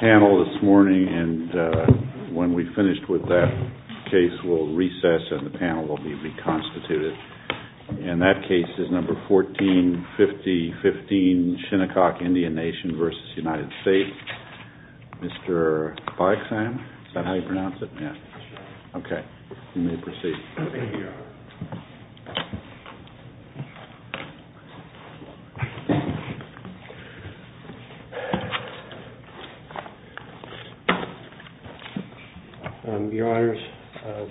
Panel this morning, and when we've finished with that case, we'll recess and the panel will be reconstituted. And that case is number 14-50-15, Shinnecock Indian Nation v. United States, Mr. Baek-San. Is that how you pronounce it? Okay, you may proceed. Thank you, Your Honor. Your Honors,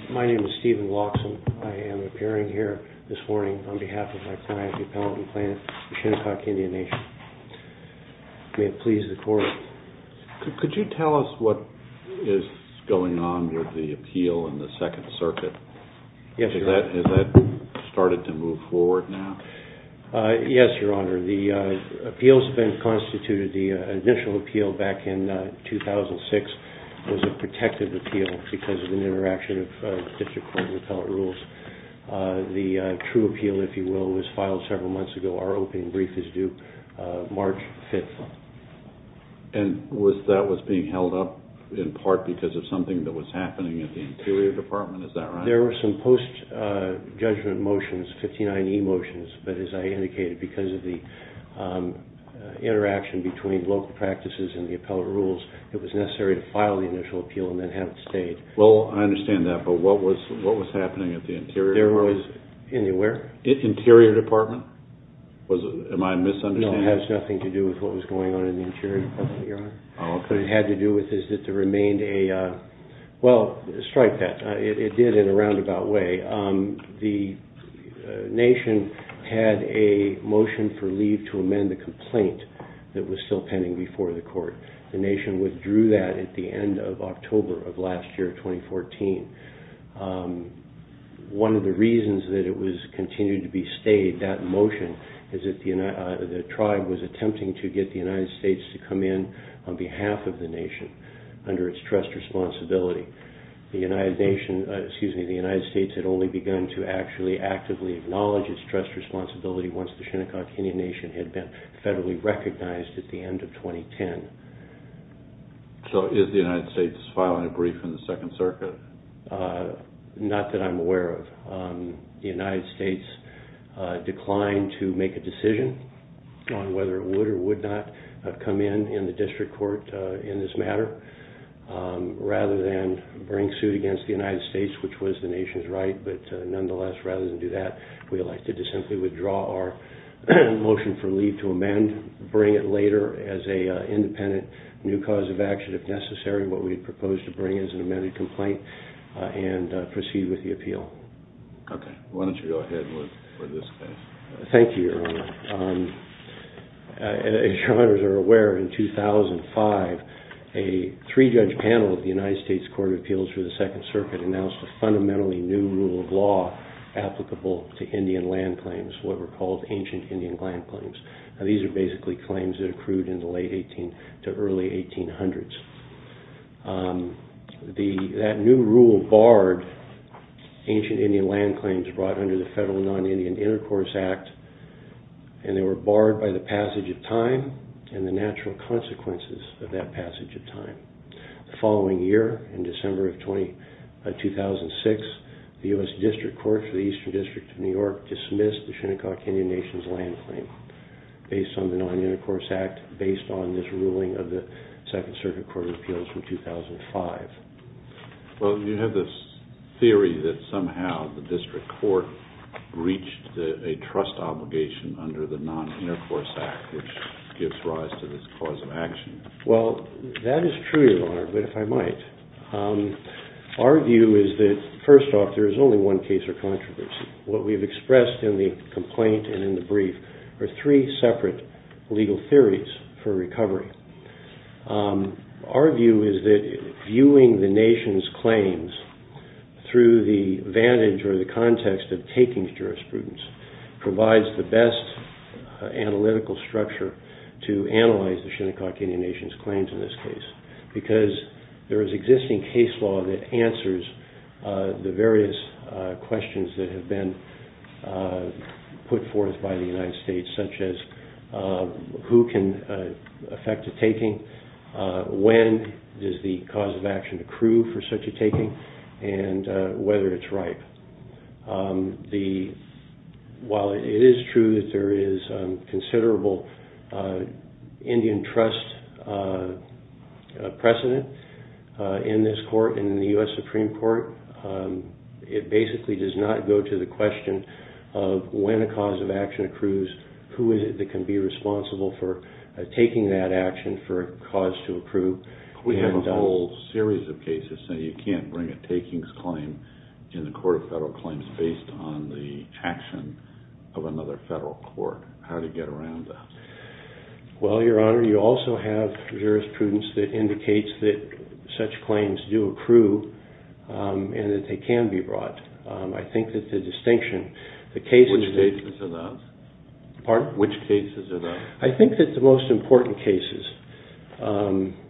my name is Stephen Lawson. I am appearing here this morning on behalf of my client, the Appellant and Plaintiff, Shinnecock Indian Nation. May it please the Court. Could you tell us what is going on with the appeal in the Second Circuit? Yes, Your Honor. Has that started to move forward now? Yes, Your Honor. The appeals have been constituted. The initial appeal back in 2006 was a protective appeal because of an interaction of District Court and Appellate rules. The true appeal, if you will, was filed several months ago. Our opening brief is due March 5th. And that was being held up in part because of something that was happening at the Interior Department, is that right? There were some post-judgment motions, 59E motions, but as I indicated, because of the interaction between local practices and the Appellate rules, it was necessary to file the initial appeal and then have it stayed. Well, I understand that, but what was happening at the Interior Department? Interior Department? Am I misunderstanding? No, it has nothing to do with what was going on in the Interior Department, Your Honor. Oh, okay. What it had to do with is that there remained a, well, strike that. It did in a roundabout way. The Nation had a motion for leave to amend the complaint that was still pending before the Court. The Nation withdrew that at the end of October of last year, 2014. One of the reasons that it continued to be stayed, that motion, is that the tribe was attempting to get the United States to come in on behalf of the Nation under its trust responsibility. The United States had only begun to actually actively acknowledge its trust responsibility once the Shinnecock Indian Nation had been federally recognized at the end of 2010. So is the United States filing a brief in the Second Circuit? Not that I'm aware of. The United States declined to make a decision on whether it would or would not come in in the District Court in this matter. Rather than bring suit against the United States, which was the Nation's right, but nonetheless, rather than do that, we elected to simply withdraw our motion for leave to amend, bring it later as an independent new cause of action, if necessary, what we proposed to bring as an amended complaint, and proceed with the appeal. Okay. Why don't you go ahead with this case? Thank you, Your Honor. As Your Honors are aware, in 2005, a three-judge panel of the United States Court of Appeals for the Second Circuit announced a fundamentally new rule of law applicable to Indian land claims, what were called ancient Indian land claims. Now these are basically claims that accrued in the late 1800s to early 1800s. That new rule barred ancient Indian land claims brought under the Federal Non-Indian Intercourse Act, and they were barred by the passage of time and the natural consequences of that passage of time. The following year, in December of 2006, the U.S. District Court for the Eastern District of New York dismissed the Shinnecock Indian Nation's land claim based on the Non-Indian Intercourse Act, based on this ruling of the Second Circuit Court of Appeals from 2005. Well, you have this theory that somehow the District Court reached a trust obligation under the Non-Indian Intercourse Act, which gives rise to this cause of action. Well, that is true, Your Honor, but if I might. Our view is that, first off, there is only one case or controversy. What we've expressed in the complaint and in the brief are three separate legal theories for recovery. Our view is that viewing the nation's claims through the vantage or the context of taking jurisprudence provides the best analytical structure to analyze the Shinnecock Indian Nation's claims in this case, because there is existing case law that answers the various questions that have been put forth by the United States, such as who can affect a taking, when does the cause of action accrue for such a taking, and whether it's ripe. While it is true that there is considerable Indian trust precedent in this court, in the U.S. Supreme Court, it basically does not go to the question of when a cause of action accrues, who is it that can be responsible for taking that action for a cause to accrue. We have a whole series of cases saying you can't bring a takings claim in the Court of Federal Claims based on the action of another federal court. How do you get around that? Well, Your Honor, you also have jurisprudence that indicates that such claims do accrue and that they can be brought. I think that the distinction, the cases... Which cases are those? Pardon? Which cases are those? I think that the most important cases,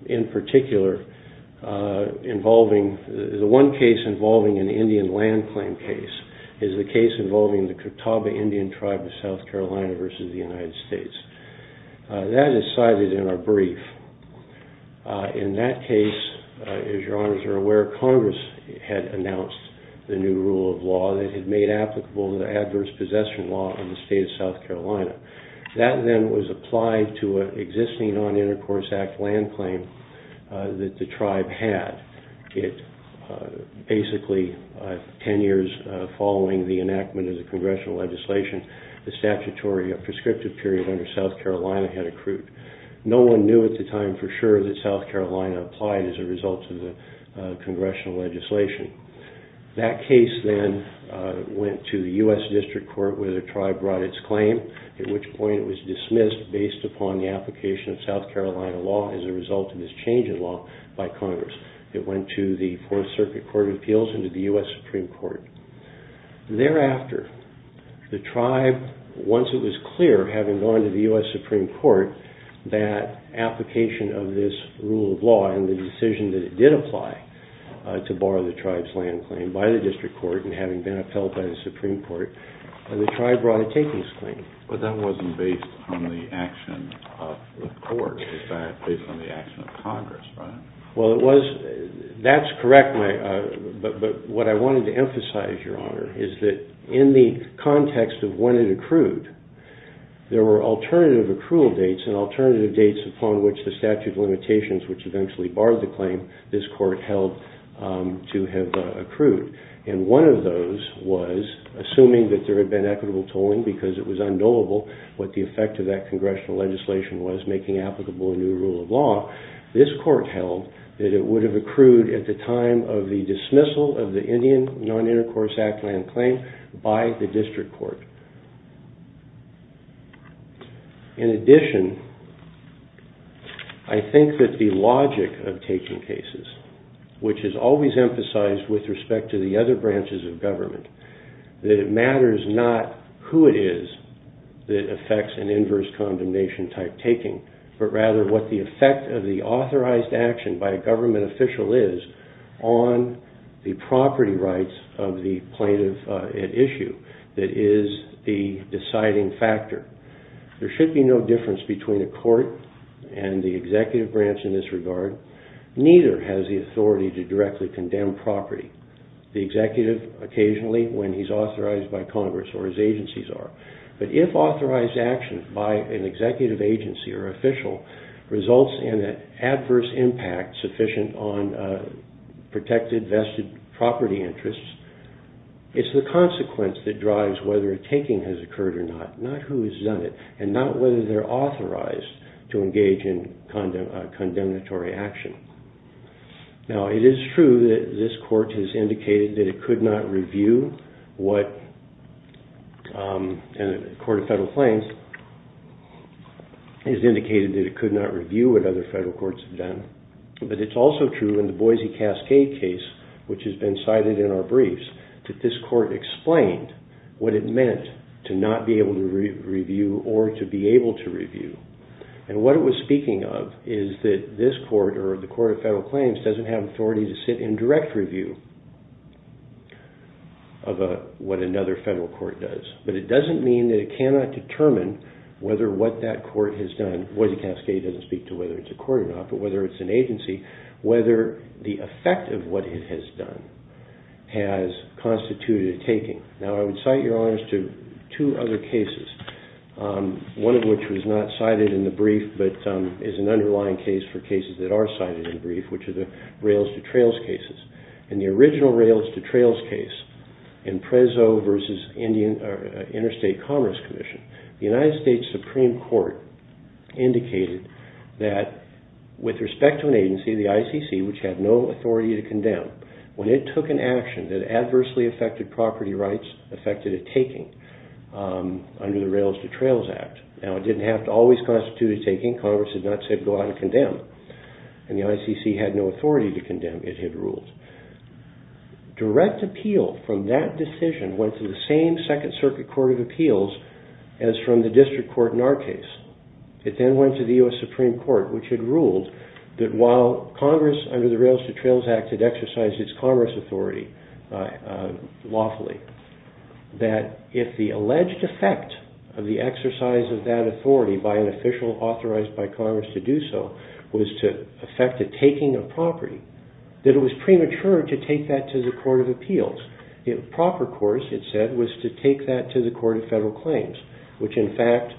in particular, involving... The one case involving an Indian land claim case is the case involving the Catawba Indian tribe of South Carolina versus the United States. That is cited in our brief. In that case, as Your Honors are aware, Congress had announced the new rule of law that had made applicable the adverse possession law in the state of South Carolina. That then was applied to an existing Non-Intercourse Act land claim that the tribe had. It basically, ten years following the enactment of the congressional legislation, the statutory prescriptive period under South Carolina had accrued. No one knew at the time for sure that South Carolina applied as a result of the congressional legislation. That case then went to the U.S. District Court where the tribe brought its claim. At which point it was dismissed based upon the application of South Carolina law as a result of this change in law by Congress. It went to the Fourth Circuit Court of Appeals and to the U.S. Supreme Court. Thereafter, the tribe, once it was clear, having gone to the U.S. Supreme Court, that application of this rule of law and the decision that it did apply to borrow the tribe's land claim by the District Court and having been upheld by the Supreme Court, the tribe brought a takings claim. But that wasn't based on the action of the court. In fact, based on the action of Congress, right? Well, that's correct, but what I wanted to emphasize, Your Honor, is that in the context of when it accrued, there were alternative accrual dates and alternative dates upon which the statute of limitations, which eventually barred the claim, this court held to have accrued. And one of those was, assuming that there had been equitable tolling because it was undoable, what the effect of that congressional legislation was making applicable a new rule of law, this court held that it would have accrued at the time of the dismissal of the Indian Non-Intercourse Act land claim by the District Court. In addition, I think that the logic of taking cases, which is always emphasized with respect to the other branches of government, that it matters not who it is that affects an inverse condemnation type taking, but rather what the effect of the authorized action by a government official is on the property rights of the plaintiff at issue that is the deciding factor. There should be no difference between a court and the executive branch in this regard. Neither has the authority to directly condemn property. The executive, occasionally, when he's authorized by Congress or his agencies are. But if authorized action by an executive agency or official results in an adverse impact sufficient on protected vested property interests, it's the consequence that drives whether a taking has occurred or not, not who has done it, and not whether they're authorized to engage in condemnatory action. Now, it is true that this court has indicated that it could not review what, and the Court of Federal Claims has indicated that it could not review what other federal courts have done. But it's also true in the Boise Cascade case, which has been cited in our briefs, that this court explained what it meant to not be able to review or to be able to review. And what it was speaking of is that this court, or the Court of Federal Claims, doesn't have authority to sit in direct review of what another federal court does. But it doesn't mean that it cannot determine whether what that court has done, and Boise Cascade doesn't speak to whether it's a court or not, but whether it's an agency, whether the effect of what it has done has constituted a taking. Now, I would cite, Your Honors, to two other cases, one of which was not cited in the brief, but is an underlying case for cases that are cited in the brief, which are the rails-to-trails cases. In the original rails-to-trails case in Prezzo v. Interstate Commerce Commission, the United States Supreme Court indicated that, with respect to an agency, the ICC, which had no authority to condemn, when it took an action that adversely affected property rights, affected a taking under the Rails-to-Trails Act. Now, it didn't have to always constitute a taking. Congress did not say go out and condemn. And the ICC had no authority to condemn. It had rules. Direct appeal from that decision went to the same Second Circuit Court of Appeals as from the district court in our case. It then went to the U.S. Supreme Court, which had ruled that while Congress, under the Rails-to-Trails Act, had exercised its commerce authority lawfully, that if the alleged effect of the exercise of that authority by an official authorized by Congress to do so was to affect a taking of property, that it was premature to take that to the Court of Appeals. The proper course, it said, was to take that to the Court of Federal Claims, which, in fact,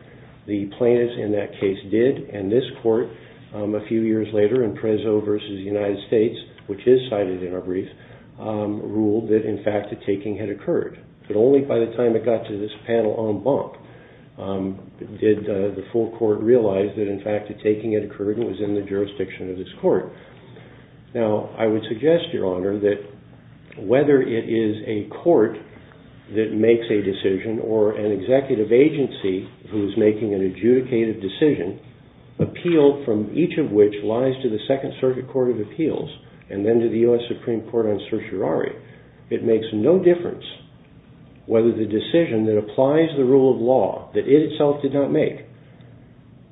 the plaintiffs in that case did. And this court, a few years later, in Prezzo v. United States, which is cited in our brief, ruled that, in fact, a taking had occurred. But only by the time it got to this panel en banc did the full court realize that, in fact, a taking had occurred and was in the jurisdiction of this court. Now, I would suggest, Your Honor, that whether it is a court that makes a decision or an executive agency who is making an adjudicated decision, appeal from each of which lies to the Second Circuit Court of Appeals and then to the U.S. Supreme Court on certiorari, it makes no difference whether the decision that applies the rule of law that it itself did not make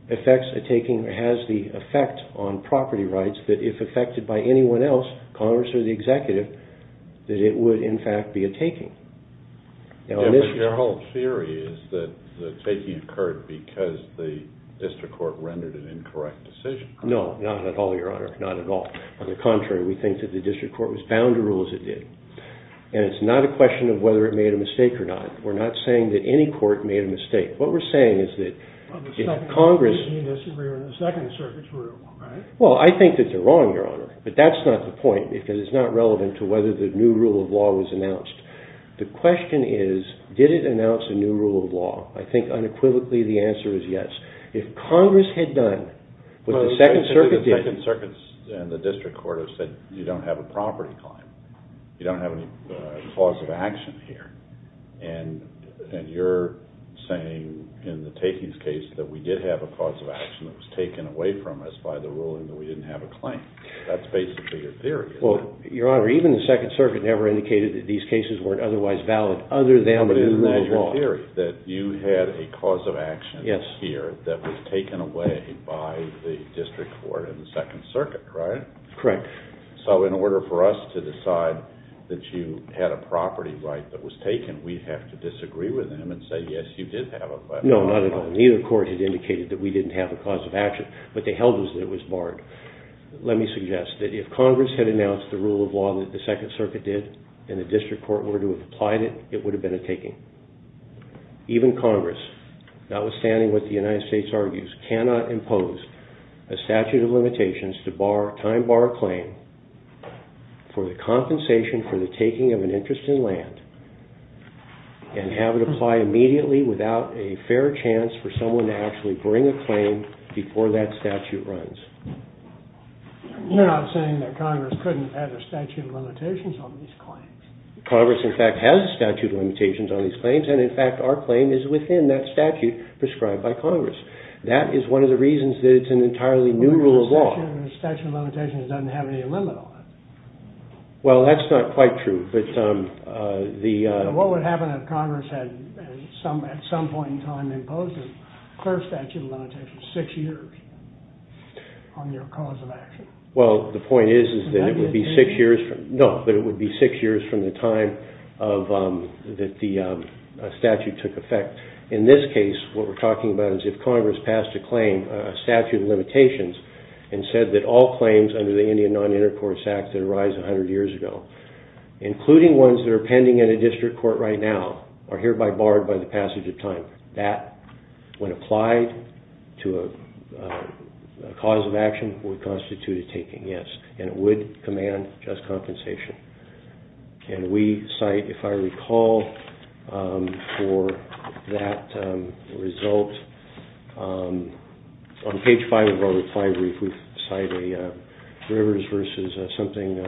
affects a taking or has the effect on property rights that, if affected by anyone else, Congress or the executive, that it would, in fact, be a taking. Now, in this case... But your whole theory is that the taking occurred because the district court rendered an incorrect decision. No, not at all, Your Honor, not at all. On the contrary, we think that the district court was bound to rule as it did. And it's not a question of whether it made a mistake or not. We're not saying that any court made a mistake. What we're saying is that if Congress... The Second Circuit's rule, right? Well, I think that they're wrong, Your Honor, but that's not the point because it's not relevant to whether the new rule of law was announced. The question is, did it announce a new rule of law? I think, unequivocally, the answer is yes. If Congress had done what the Second Circuit did... The Second Circuit and the district court have said you don't have a property claim. You don't have any cause of action here. And you're saying, in the takings case, that we did have a cause of action that was taken away from us by the ruling that we didn't have a claim. That's basically your theory, isn't it? Well, Your Honor, even the Second Circuit never indicated that these cases weren't otherwise valid other than the new rule of law. But isn't that your theory, that you had a cause of action here that was taken away by the district court and the Second Circuit, right? Correct. So in order for us to decide that you had a property right that was taken, we'd have to disagree with them and say, yes, you did have a... No, not at all. Neither court had indicated that we didn't have a cause of action, but they held us that it was barred. Let me suggest that if Congress had announced the rule of law that the Second Circuit did and the district court were to have applied it, it would have been a taking. Even Congress, notwithstanding what the United States argues, cannot impose a statute of limitations to time bar a claim for the compensation for the taking of an interest in land and have it apply immediately without a fair chance for someone to actually bring a claim before that statute runs. You're not saying that Congress couldn't have a statute of limitations on these claims. Congress, in fact, has a statute of limitations on these claims, and in fact our claim is within that statute prescribed by Congress. That is one of the reasons that it's an entirely new rule of law. A statute of limitations doesn't have any limit on it. Well, that's not quite true, but the... What would happen if Congress had, at some point in time, imposed a clear statute of limitations, six years, on your cause of action? Well, the point is that it would be six years from... No, but it would be six years from the time that the statute took effect. In this case, what we're talking about is if Congress passed a claim, a statute of limitations, and said that all claims under the Indian Non-Intercourse Act that arise a hundred years ago, including ones that are pending in a district court right now, are hereby barred by the passage of time. That, when applied to a cause of action, would constitute a taking, yes. And it would command just compensation. And we cite, if I recall, for that result, on page five of our reply brief, we cite a Rivers versus something...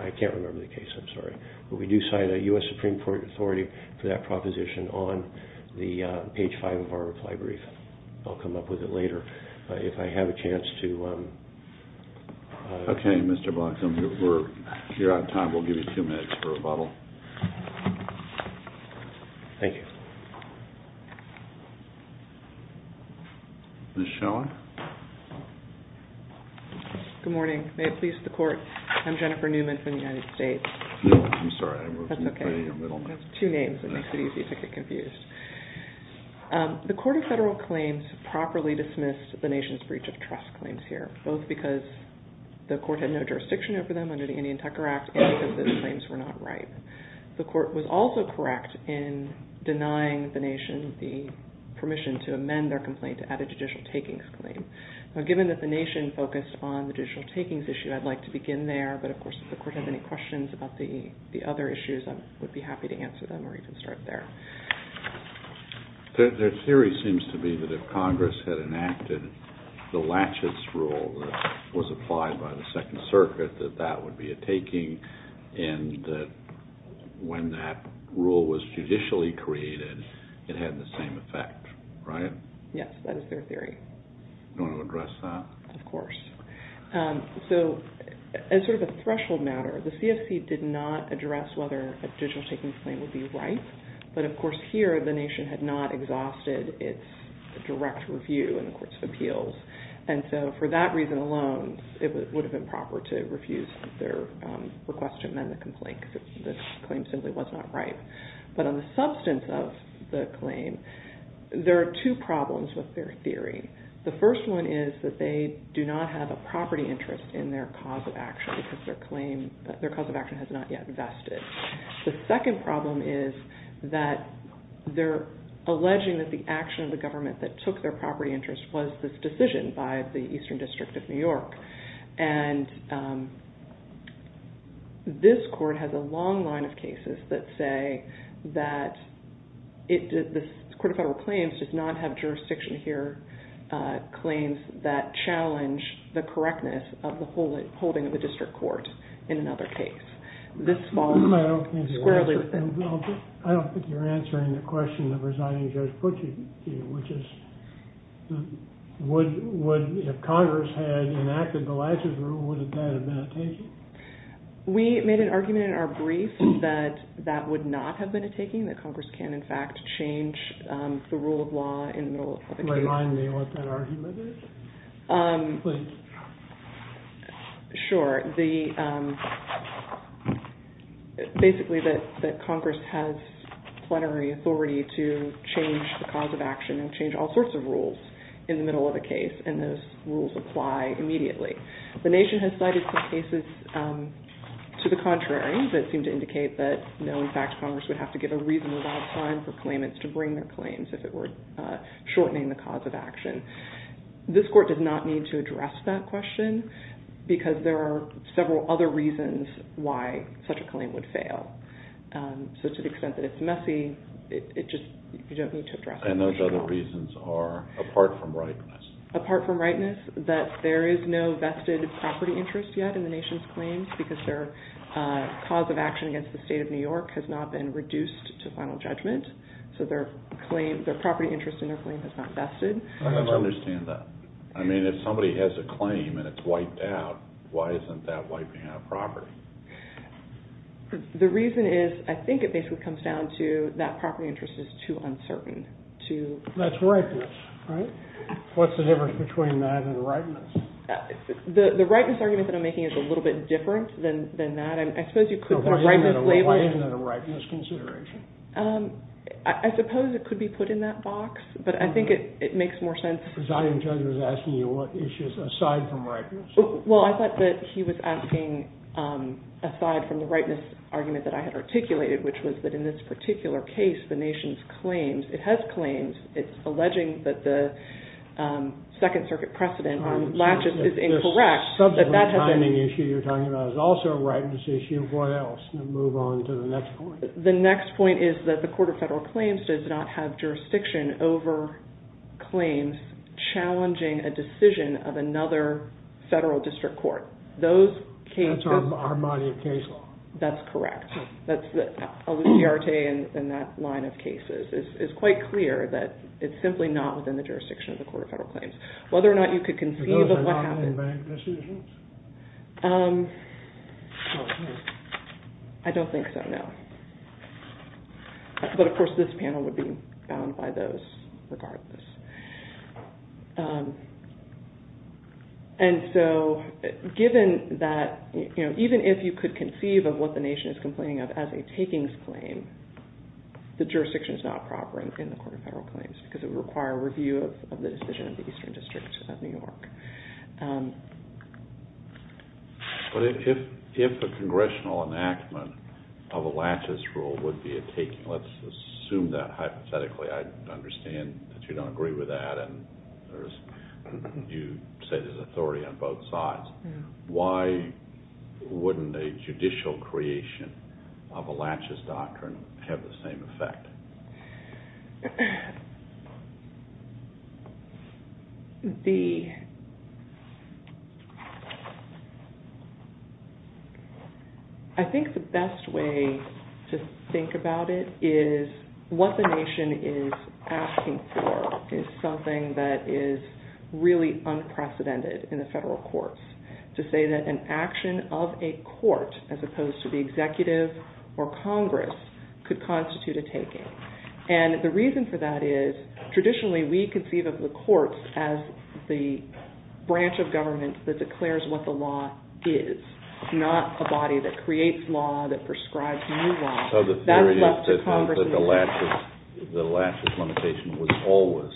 I can't remember the case, I'm sorry. But we do cite a U.S. Supreme Court authority for that proposition on page five of our reply brief. I'll come up with it later if I have a chance to... Okay, Mr. Blackcomb, if you're out of time, we'll give you two minutes for a rebuttal. Thank you. Ms. Schelling? Good morning. May it please the Court. I'm Jennifer Newman from the United States. I'm sorry, I was in the middle. That's okay. That's two names. It makes it easy to get confused. The Court of Federal Claims properly dismissed the nation's breach of trust claims here, both because the Court had no jurisdiction over them under the Indian Tucker Act and because those claims were not right. The Court was also correct in denying the nation the permission to amend their complaint to add a judicial takings claim. Now, given that the nation focused on the judicial takings issue, I'd like to begin there. But, of course, if the Court has any questions about the other issues, I would be happy to answer them or even start there. Their theory seems to be that if Congress had enacted the Latches Rule that was applied by the Second Circuit, that that would be a taking and that when that rule was judicially created, it had the same effect, right? Yes, that is their theory. Do you want to address that? Of course. So, as sort of a threshold matter, the CFC did not address whether a digital takings claim would be right, but, of course, here the nation had not exhausted its direct review in the Courts of Appeals. And so, for that reason alone, it would have been proper to refuse their request to amend the complaint because the claim simply was not right. But on the substance of the claim, there are two problems with their theory. The first one is that they do not have a property interest in their cause of action because their cause of action has not yet vested. The second problem is that they're alleging that the action of the government that took their property interest was this decision by the Eastern District of New York. And this court has a long line of cases that say that the Court of Federal Claims does not have jurisdiction here, claims that challenge the correctness of the holding of the district court in another case. I don't think you're answering the question of resigning Judge Pucci, which is, if Congress had enacted the last rule, would that have been a taking? We made an argument in our brief that that would not have been a taking, that Congress can, in fact, change the rule of law in the middle of the case. Remind me what that argument is, please. Sure. Basically that Congress has plenary authority to change the cause of action and change all sorts of rules in the middle of a case, and those rules apply immediately. The nation has cited some cases to the contrary that seem to indicate that, no, in fact, Congress would have to give a reasonable amount of time for claimants to bring their claims if it were shortening the cause of action. This court does not need to address that question because there are several other reasons why such a claim would fail. So to the extent that it's messy, you don't need to address it. And those other reasons are apart from rightness. Apart from rightness, that there is no vested property interest yet in the nation's claims because their cause of action against the State of New York has not been reduced to final judgment, so their property interest in their claim has not vested. I don't understand that. I mean, if somebody has a claim and it's wiped out, why isn't that wiping out property? The reason is, I think it basically comes down to that property interest is too uncertain. That's rightness, right? What's the difference between that and rightness? The rightness argument that I'm making is a little bit different than that. I suppose you could put rightness labor. What is a rightness consideration? I suppose it could be put in that box, but I think it makes more sense. The presiding judge was asking you what issues aside from rightness. Well, I thought that he was asking aside from the rightness argument that I had articulated, which was that in this particular case, the nation's claims, it has claims. It's alleging that the Second Circuit precedent on latches is incorrect. The subject of the timing issue you're talking about is also a rightness issue. What else? Move on to the next point. The next point is that the Court of Federal Claims does not have jurisdiction over claims challenging a decision of another federal district court. That's on the Armani of Case Law. That's correct. That's the Aluciarte in that line of cases. It's quite clear that it's simply not within the jurisdiction of the Court of Federal Claims. Whether or not you could conceive of what happened... Are those anonymous bank decisions? I don't think so, no. But, of course, this panel would be bound by those regardless. And so given that even if you could conceive of what the nation is complaining of as a takings claim, the jurisdiction is not proper in the Court of Federal Claims because it would require review of the decision of the Eastern District of New York. But if a congressional enactment of a laches rule would be a taking, let's assume that hypothetically. I understand that you don't agree with that and you say there's authority on both sides. Why wouldn't a judicial creation of a laches doctrine have the same effect? The... I think the best way to think about it is what the nation is asking for is something that is really unprecedented in the federal courts. To say that an action of a court as opposed to the executive or Congress could constitute a taking. And the reason for that is traditionally we conceive of the courts as the branch of government that declares what the law is, not a body that creates law, that prescribes new law. So the theory is that the laches limitation was always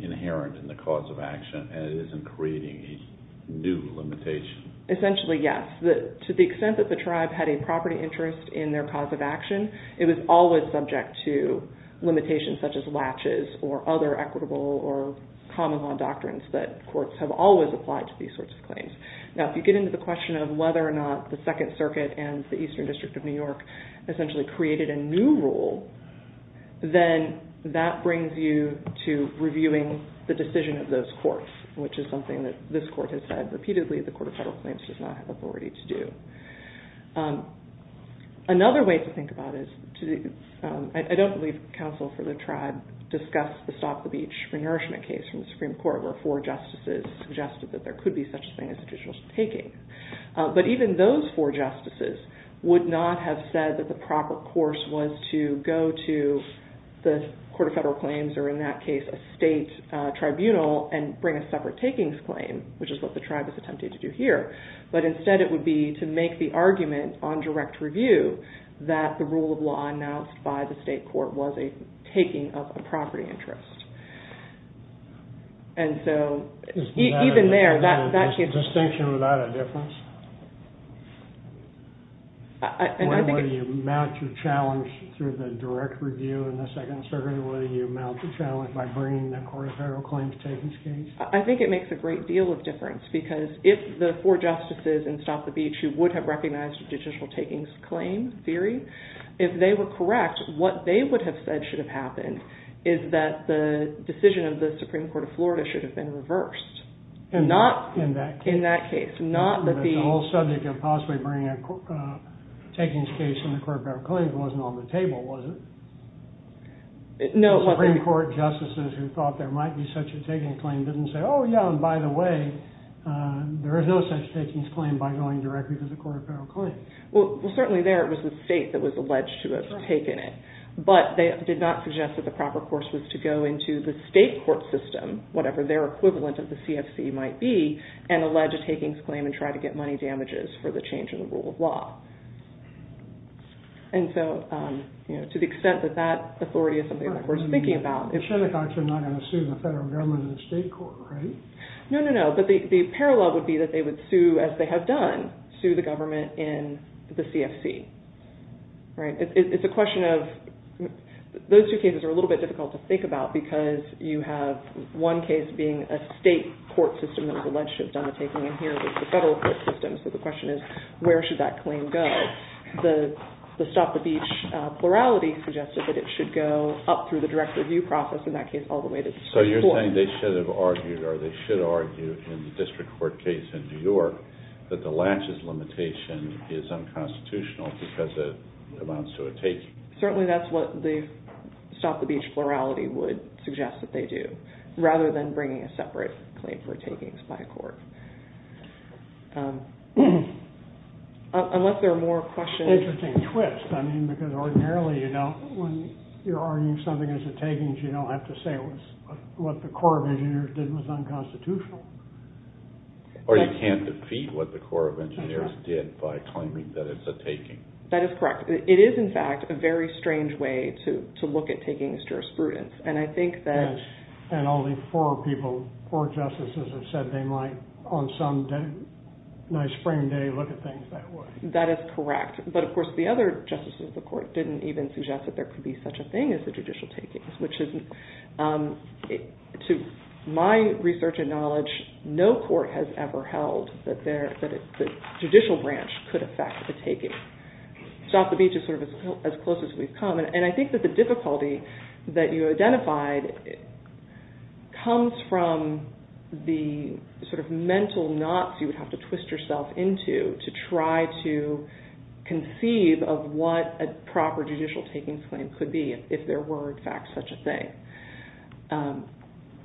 inherent in the cause of action and it isn't creating a new limitation. Essentially, yes. To the extent that the tribe had a property interest in their cause of action, it was always subject to limitations such as laches or other equitable or common law doctrines that courts have always applied to these sorts of claims. Now, if you get into the question of whether or not the Second Circuit and the Eastern District of New York essentially created a new rule, then that brings you to reviewing the decision of those courts, which is something that this court has said repeatedly the Court of Federal Claims does not have authority to do. Another way to think about it, I don't believe counsel for the tribe discussed the Stop the Beach re-nourishment case from the Supreme Court where four justices suggested that there could be such thing as additional taking. But even those four justices would not have said that the proper course was to go to the Court of Federal Claims or in that case a state tribunal and bring a separate takings claim, which is what the tribe has attempted to do here. But instead it would be to make the argument on direct review that the rule of law announced by the state court was a taking of a property interest. And so, even there, that can't... Is the distinction without a difference? Whether you mount your challenge through the direct review in the Second Circuit or whether you mount the challenge by bringing the Court of Federal Claims takings case? I think it makes a great deal of difference because if the four justices in Stop the Beach who would have recognized additional takings claim theory, if they were correct, what they would have said should have happened is that the decision of the Supreme Court of Florida should have been reversed. Not in that case. The whole subject of possibly bringing a takings case in the Court of Federal Claims wasn't on the table, was it? No. Supreme Court justices who thought there might be such a taking claim didn't say, oh yeah, and by the way, there is no such takings claim by going directly to the Court of Federal Claims. Well, certainly there it was the state that was alleged to have taken it. But they did not suggest that the proper course was to go into the state court system, whatever their equivalent of the CFC might be, and allege a takings claim and try to get money damages for the change in the rule of law. And so, to the extent that that authority is something that we're thinking about... It's not like I'm not going to sue the federal government in the state court, right? No, no, no. But the parallel would be that they would sue, as they have done, sue the government in the CFC. Right? It's a question of... Those two cases are a little bit difficult to think about because you have one case being a state court system that was alleged to have done the taking, and here is the federal court system. So the question is, where should that claim go? The Stop the Beach plurality suggested that it should go up through the direct review process, in that case, all the way to the state court. So you're saying they should have argued, or they should argue in the district court case in New York, that the latches limitation is unconstitutional because it amounts to a taking. Certainly that's what the Stop the Beach plurality would suggest that they do, rather than bringing a separate claim for takings by a court. Unless there are more questions... Interesting twist. I mean, because ordinarily, you know, when you're arguing something as a takings, you don't have to say what the Corps of Engineers did was unconstitutional. Or you can't defeat what the Corps of Engineers did by claiming that it's a taking. That is correct. It is, in fact, a very strange way to look at takings jurisprudence, and I think that... And only four people, four justices, have said they might, on some nice spring day, look at things that way. That is correct. But, of course, the other justices of the court didn't even suggest that there could be such a thing as a judicial taking, which isn't... To my research and knowledge, no court has ever held that the judicial branch could affect the taking. Stop the Beach is sort of as close as we've come, and I think that the difficulty that you identified comes from the sort of mental knots you would have to twist yourself into to try to conceive of what a proper judicial takings claim could be if there were, in fact, such a thing.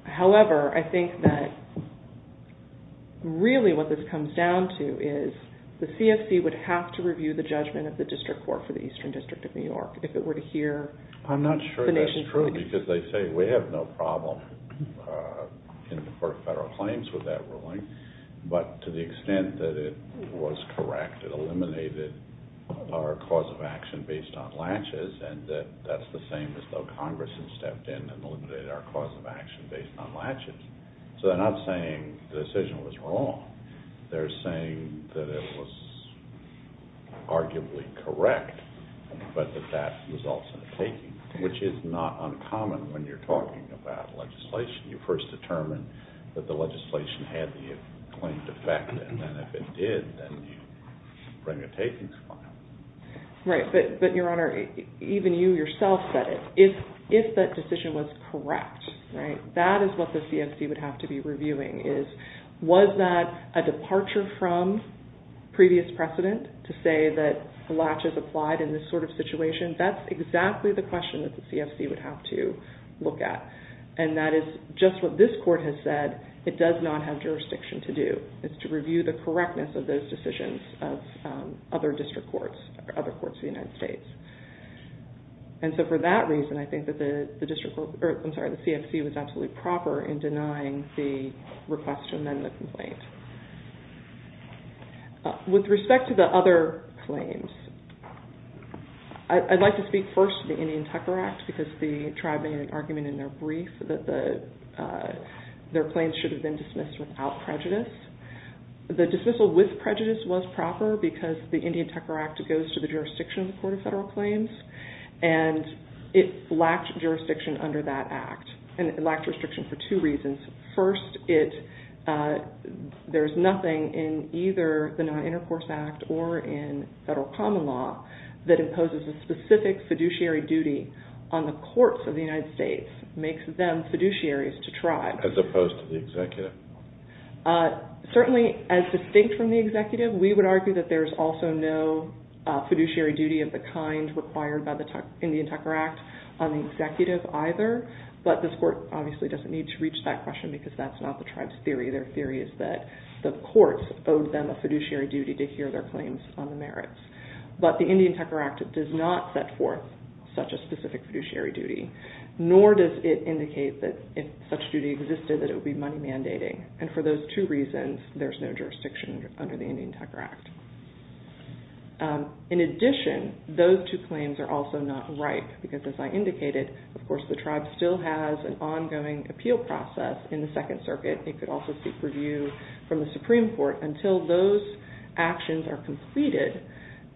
However, I think that really what this comes down to is the CFC would have to review the judgment of the District Court for the Eastern District of New York if it were to hear the nation's... I'm not sure that's true, because they say we have no problem in deferred federal claims with that ruling, but to the extent that it was correct, it eliminated our cause of action based on latches, and that's the same as though Congress had stepped in and eliminated our cause of action based on latches. So they're not saying the decision was wrong. They're saying that it was arguably correct, but that that results in a taking, which is not uncommon when you're talking about legislation. You first determine that the legislation had the claimed effect, and then if it did, then you bring a takings file. Right, but Your Honor, even you yourself said it. If that decision was correct, that is what the CFC would have to be reviewing. Was that a departure from previous precedent to say that latches applied in this sort of situation? That's exactly the question that the CFC would have to look at, and that is just what this Court has said. It does not have jurisdiction to do. It's to review the correctness of those decisions of other district courts or other courts in the United States. And so for that reason, I think that the CFC was absolutely proper in denying the request to amend the complaint. With respect to the other claims, I'd like to speak first to the Indian Tucker Act because the tribe made an argument in their brief that their claims should have been dismissed without prejudice. The dismissal with prejudice was proper because the Indian Tucker Act goes to the jurisdiction of the Court of Federal Claims, and it lacked jurisdiction under that act. And it lacked jurisdiction for two reasons. First, there's nothing in either the Non-Intercourse Act or in federal common law that imposes a specific fiduciary duty on the courts of the United States, makes them fiduciaries to tribes. As opposed to the executive. Certainly, as distinct from the executive, we would argue that there's also no fiduciary duty of the kind required by the Indian Tucker Act on the executive either, but this court obviously doesn't need to reach that question because that's not the tribe's theory. Their theory is that the courts owed them a fiduciary duty to hear their claims on the merits. But the Indian Tucker Act does not set forth such a specific fiduciary duty, nor does it indicate that if such duty existed that it would be money mandating. And for those two reasons, there's no jurisdiction under the Indian Tucker Act. In addition, those two claims are also not ripe because as I indicated, of course, the tribe still has an ongoing appeal process in the Second Circuit. It could also seek review from the Supreme Court. Until those actions are completed,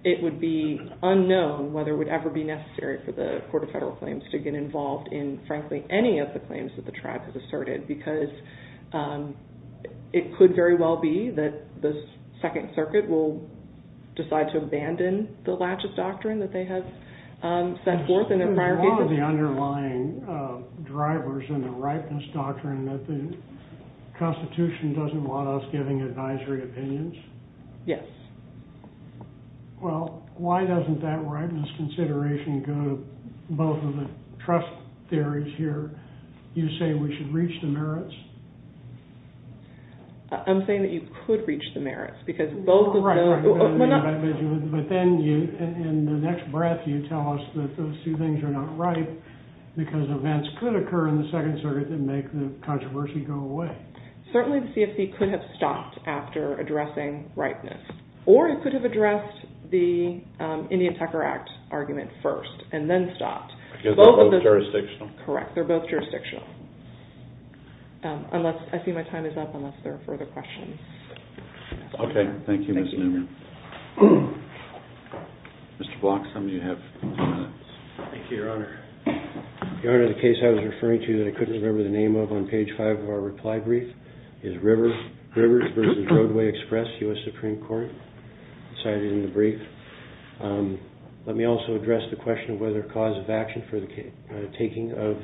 it would be unknown whether it would ever be necessary for the Court of Federal Claims to get involved in frankly any of the claims that the tribe has asserted because it could very well be that the Second Circuit will decide to abandon the laches doctrine that they have set forth in their prior cases. There's a lot of the underlying drivers in the ripeness doctrine that the Constitution doesn't want us giving advisory opinions. Yes. Well, why doesn't that ripeness consideration go to both of the trust theories here? You say we should reach the merits? I'm saying that you could reach the merits because both of those... But then in the next breath, you tell us that those two things are not ripe because events could occur in the Second Circuit that make the controversy go away. Certainly the CFC could have stopped after addressing ripeness or it could have addressed the Indian Tucker Act argument first and then stopped. Because they're both jurisdictional. Correct. They're both jurisdictional. I see my time is up unless there are further questions. Okay. Thank you, Ms. Newman. Mr. Block, some of you have... Thank you, Your Honor. Your Honor, the case I was referring to that I couldn't remember the name of on page five of our reply brief is Rivers v. Roadway Express, U.S. Supreme Court, cited in the brief. Let me also address the question of whether a cause of action for the taking of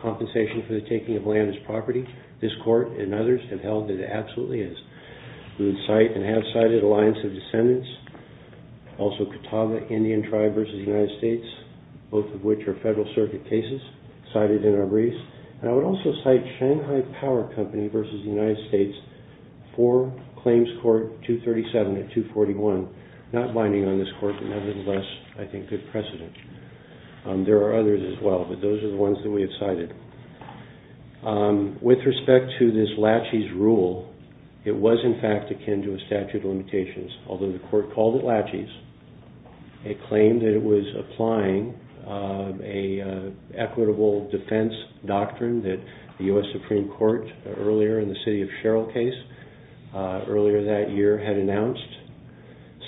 compensation for the taking of land as property, this Court and others have held that it absolutely is. We would cite and have cited Alliance of Descendants, also Catawba Indian Tribe v. United States, both of which are Federal Circuit cases, cited in our briefs. I would also cite Shanghai Power Company v. United States for Claims Court 237 and 241, not binding on this Court, but nevertheless, I think, good precedent. There are others as well, but those are the ones that we have cited. With respect to this laches rule, it was, in fact, akin to a statute of limitations, although the Court called it laches. It claimed that it was applying an equitable defense doctrine that the U.S. Supreme Court, earlier in the City of Sherrill case, earlier that year, had announced.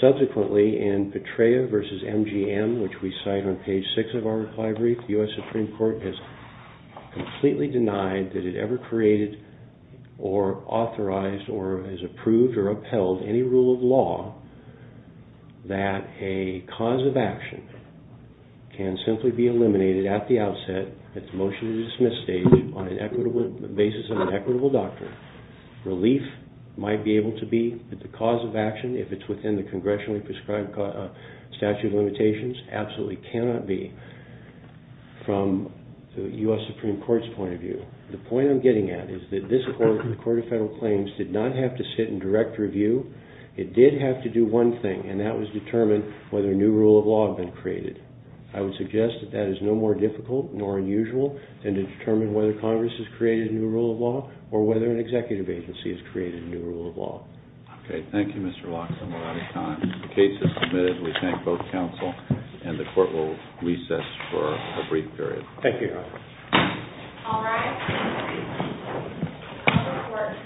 Subsequently, in Petraea v. MGM, which we cite on page 6 of our reply brief, the U.S. Supreme Court has completely denied that it ever created or authorized or has approved or upheld any rule of law that a cause of action can simply be eliminated at the outset, at the motion-to-dismiss stage, on the basis of an equitable doctrine. Relief might be able to be, but the cause of action, if it's within the congressionally prescribed statute of limitations, absolutely cannot be from the U.S. Supreme Court's point of view. The point I'm getting at is that this Court, the Court of Federal Claims, did not have to sit in direct review. It did have to do one thing, and that was determine whether a new rule of law had been created. I would suggest that that is no more difficult nor unusual than to determine whether Congress has created a new rule of law or whether an executive agency has created a new rule of law. Okay, thank you, Mr. Locks, and we're out of time. The case is submitted. We thank both counsel, and the Court will recess for a brief period. Thank you, Your Honor. All rise. The Court will take a short recess. Thank you.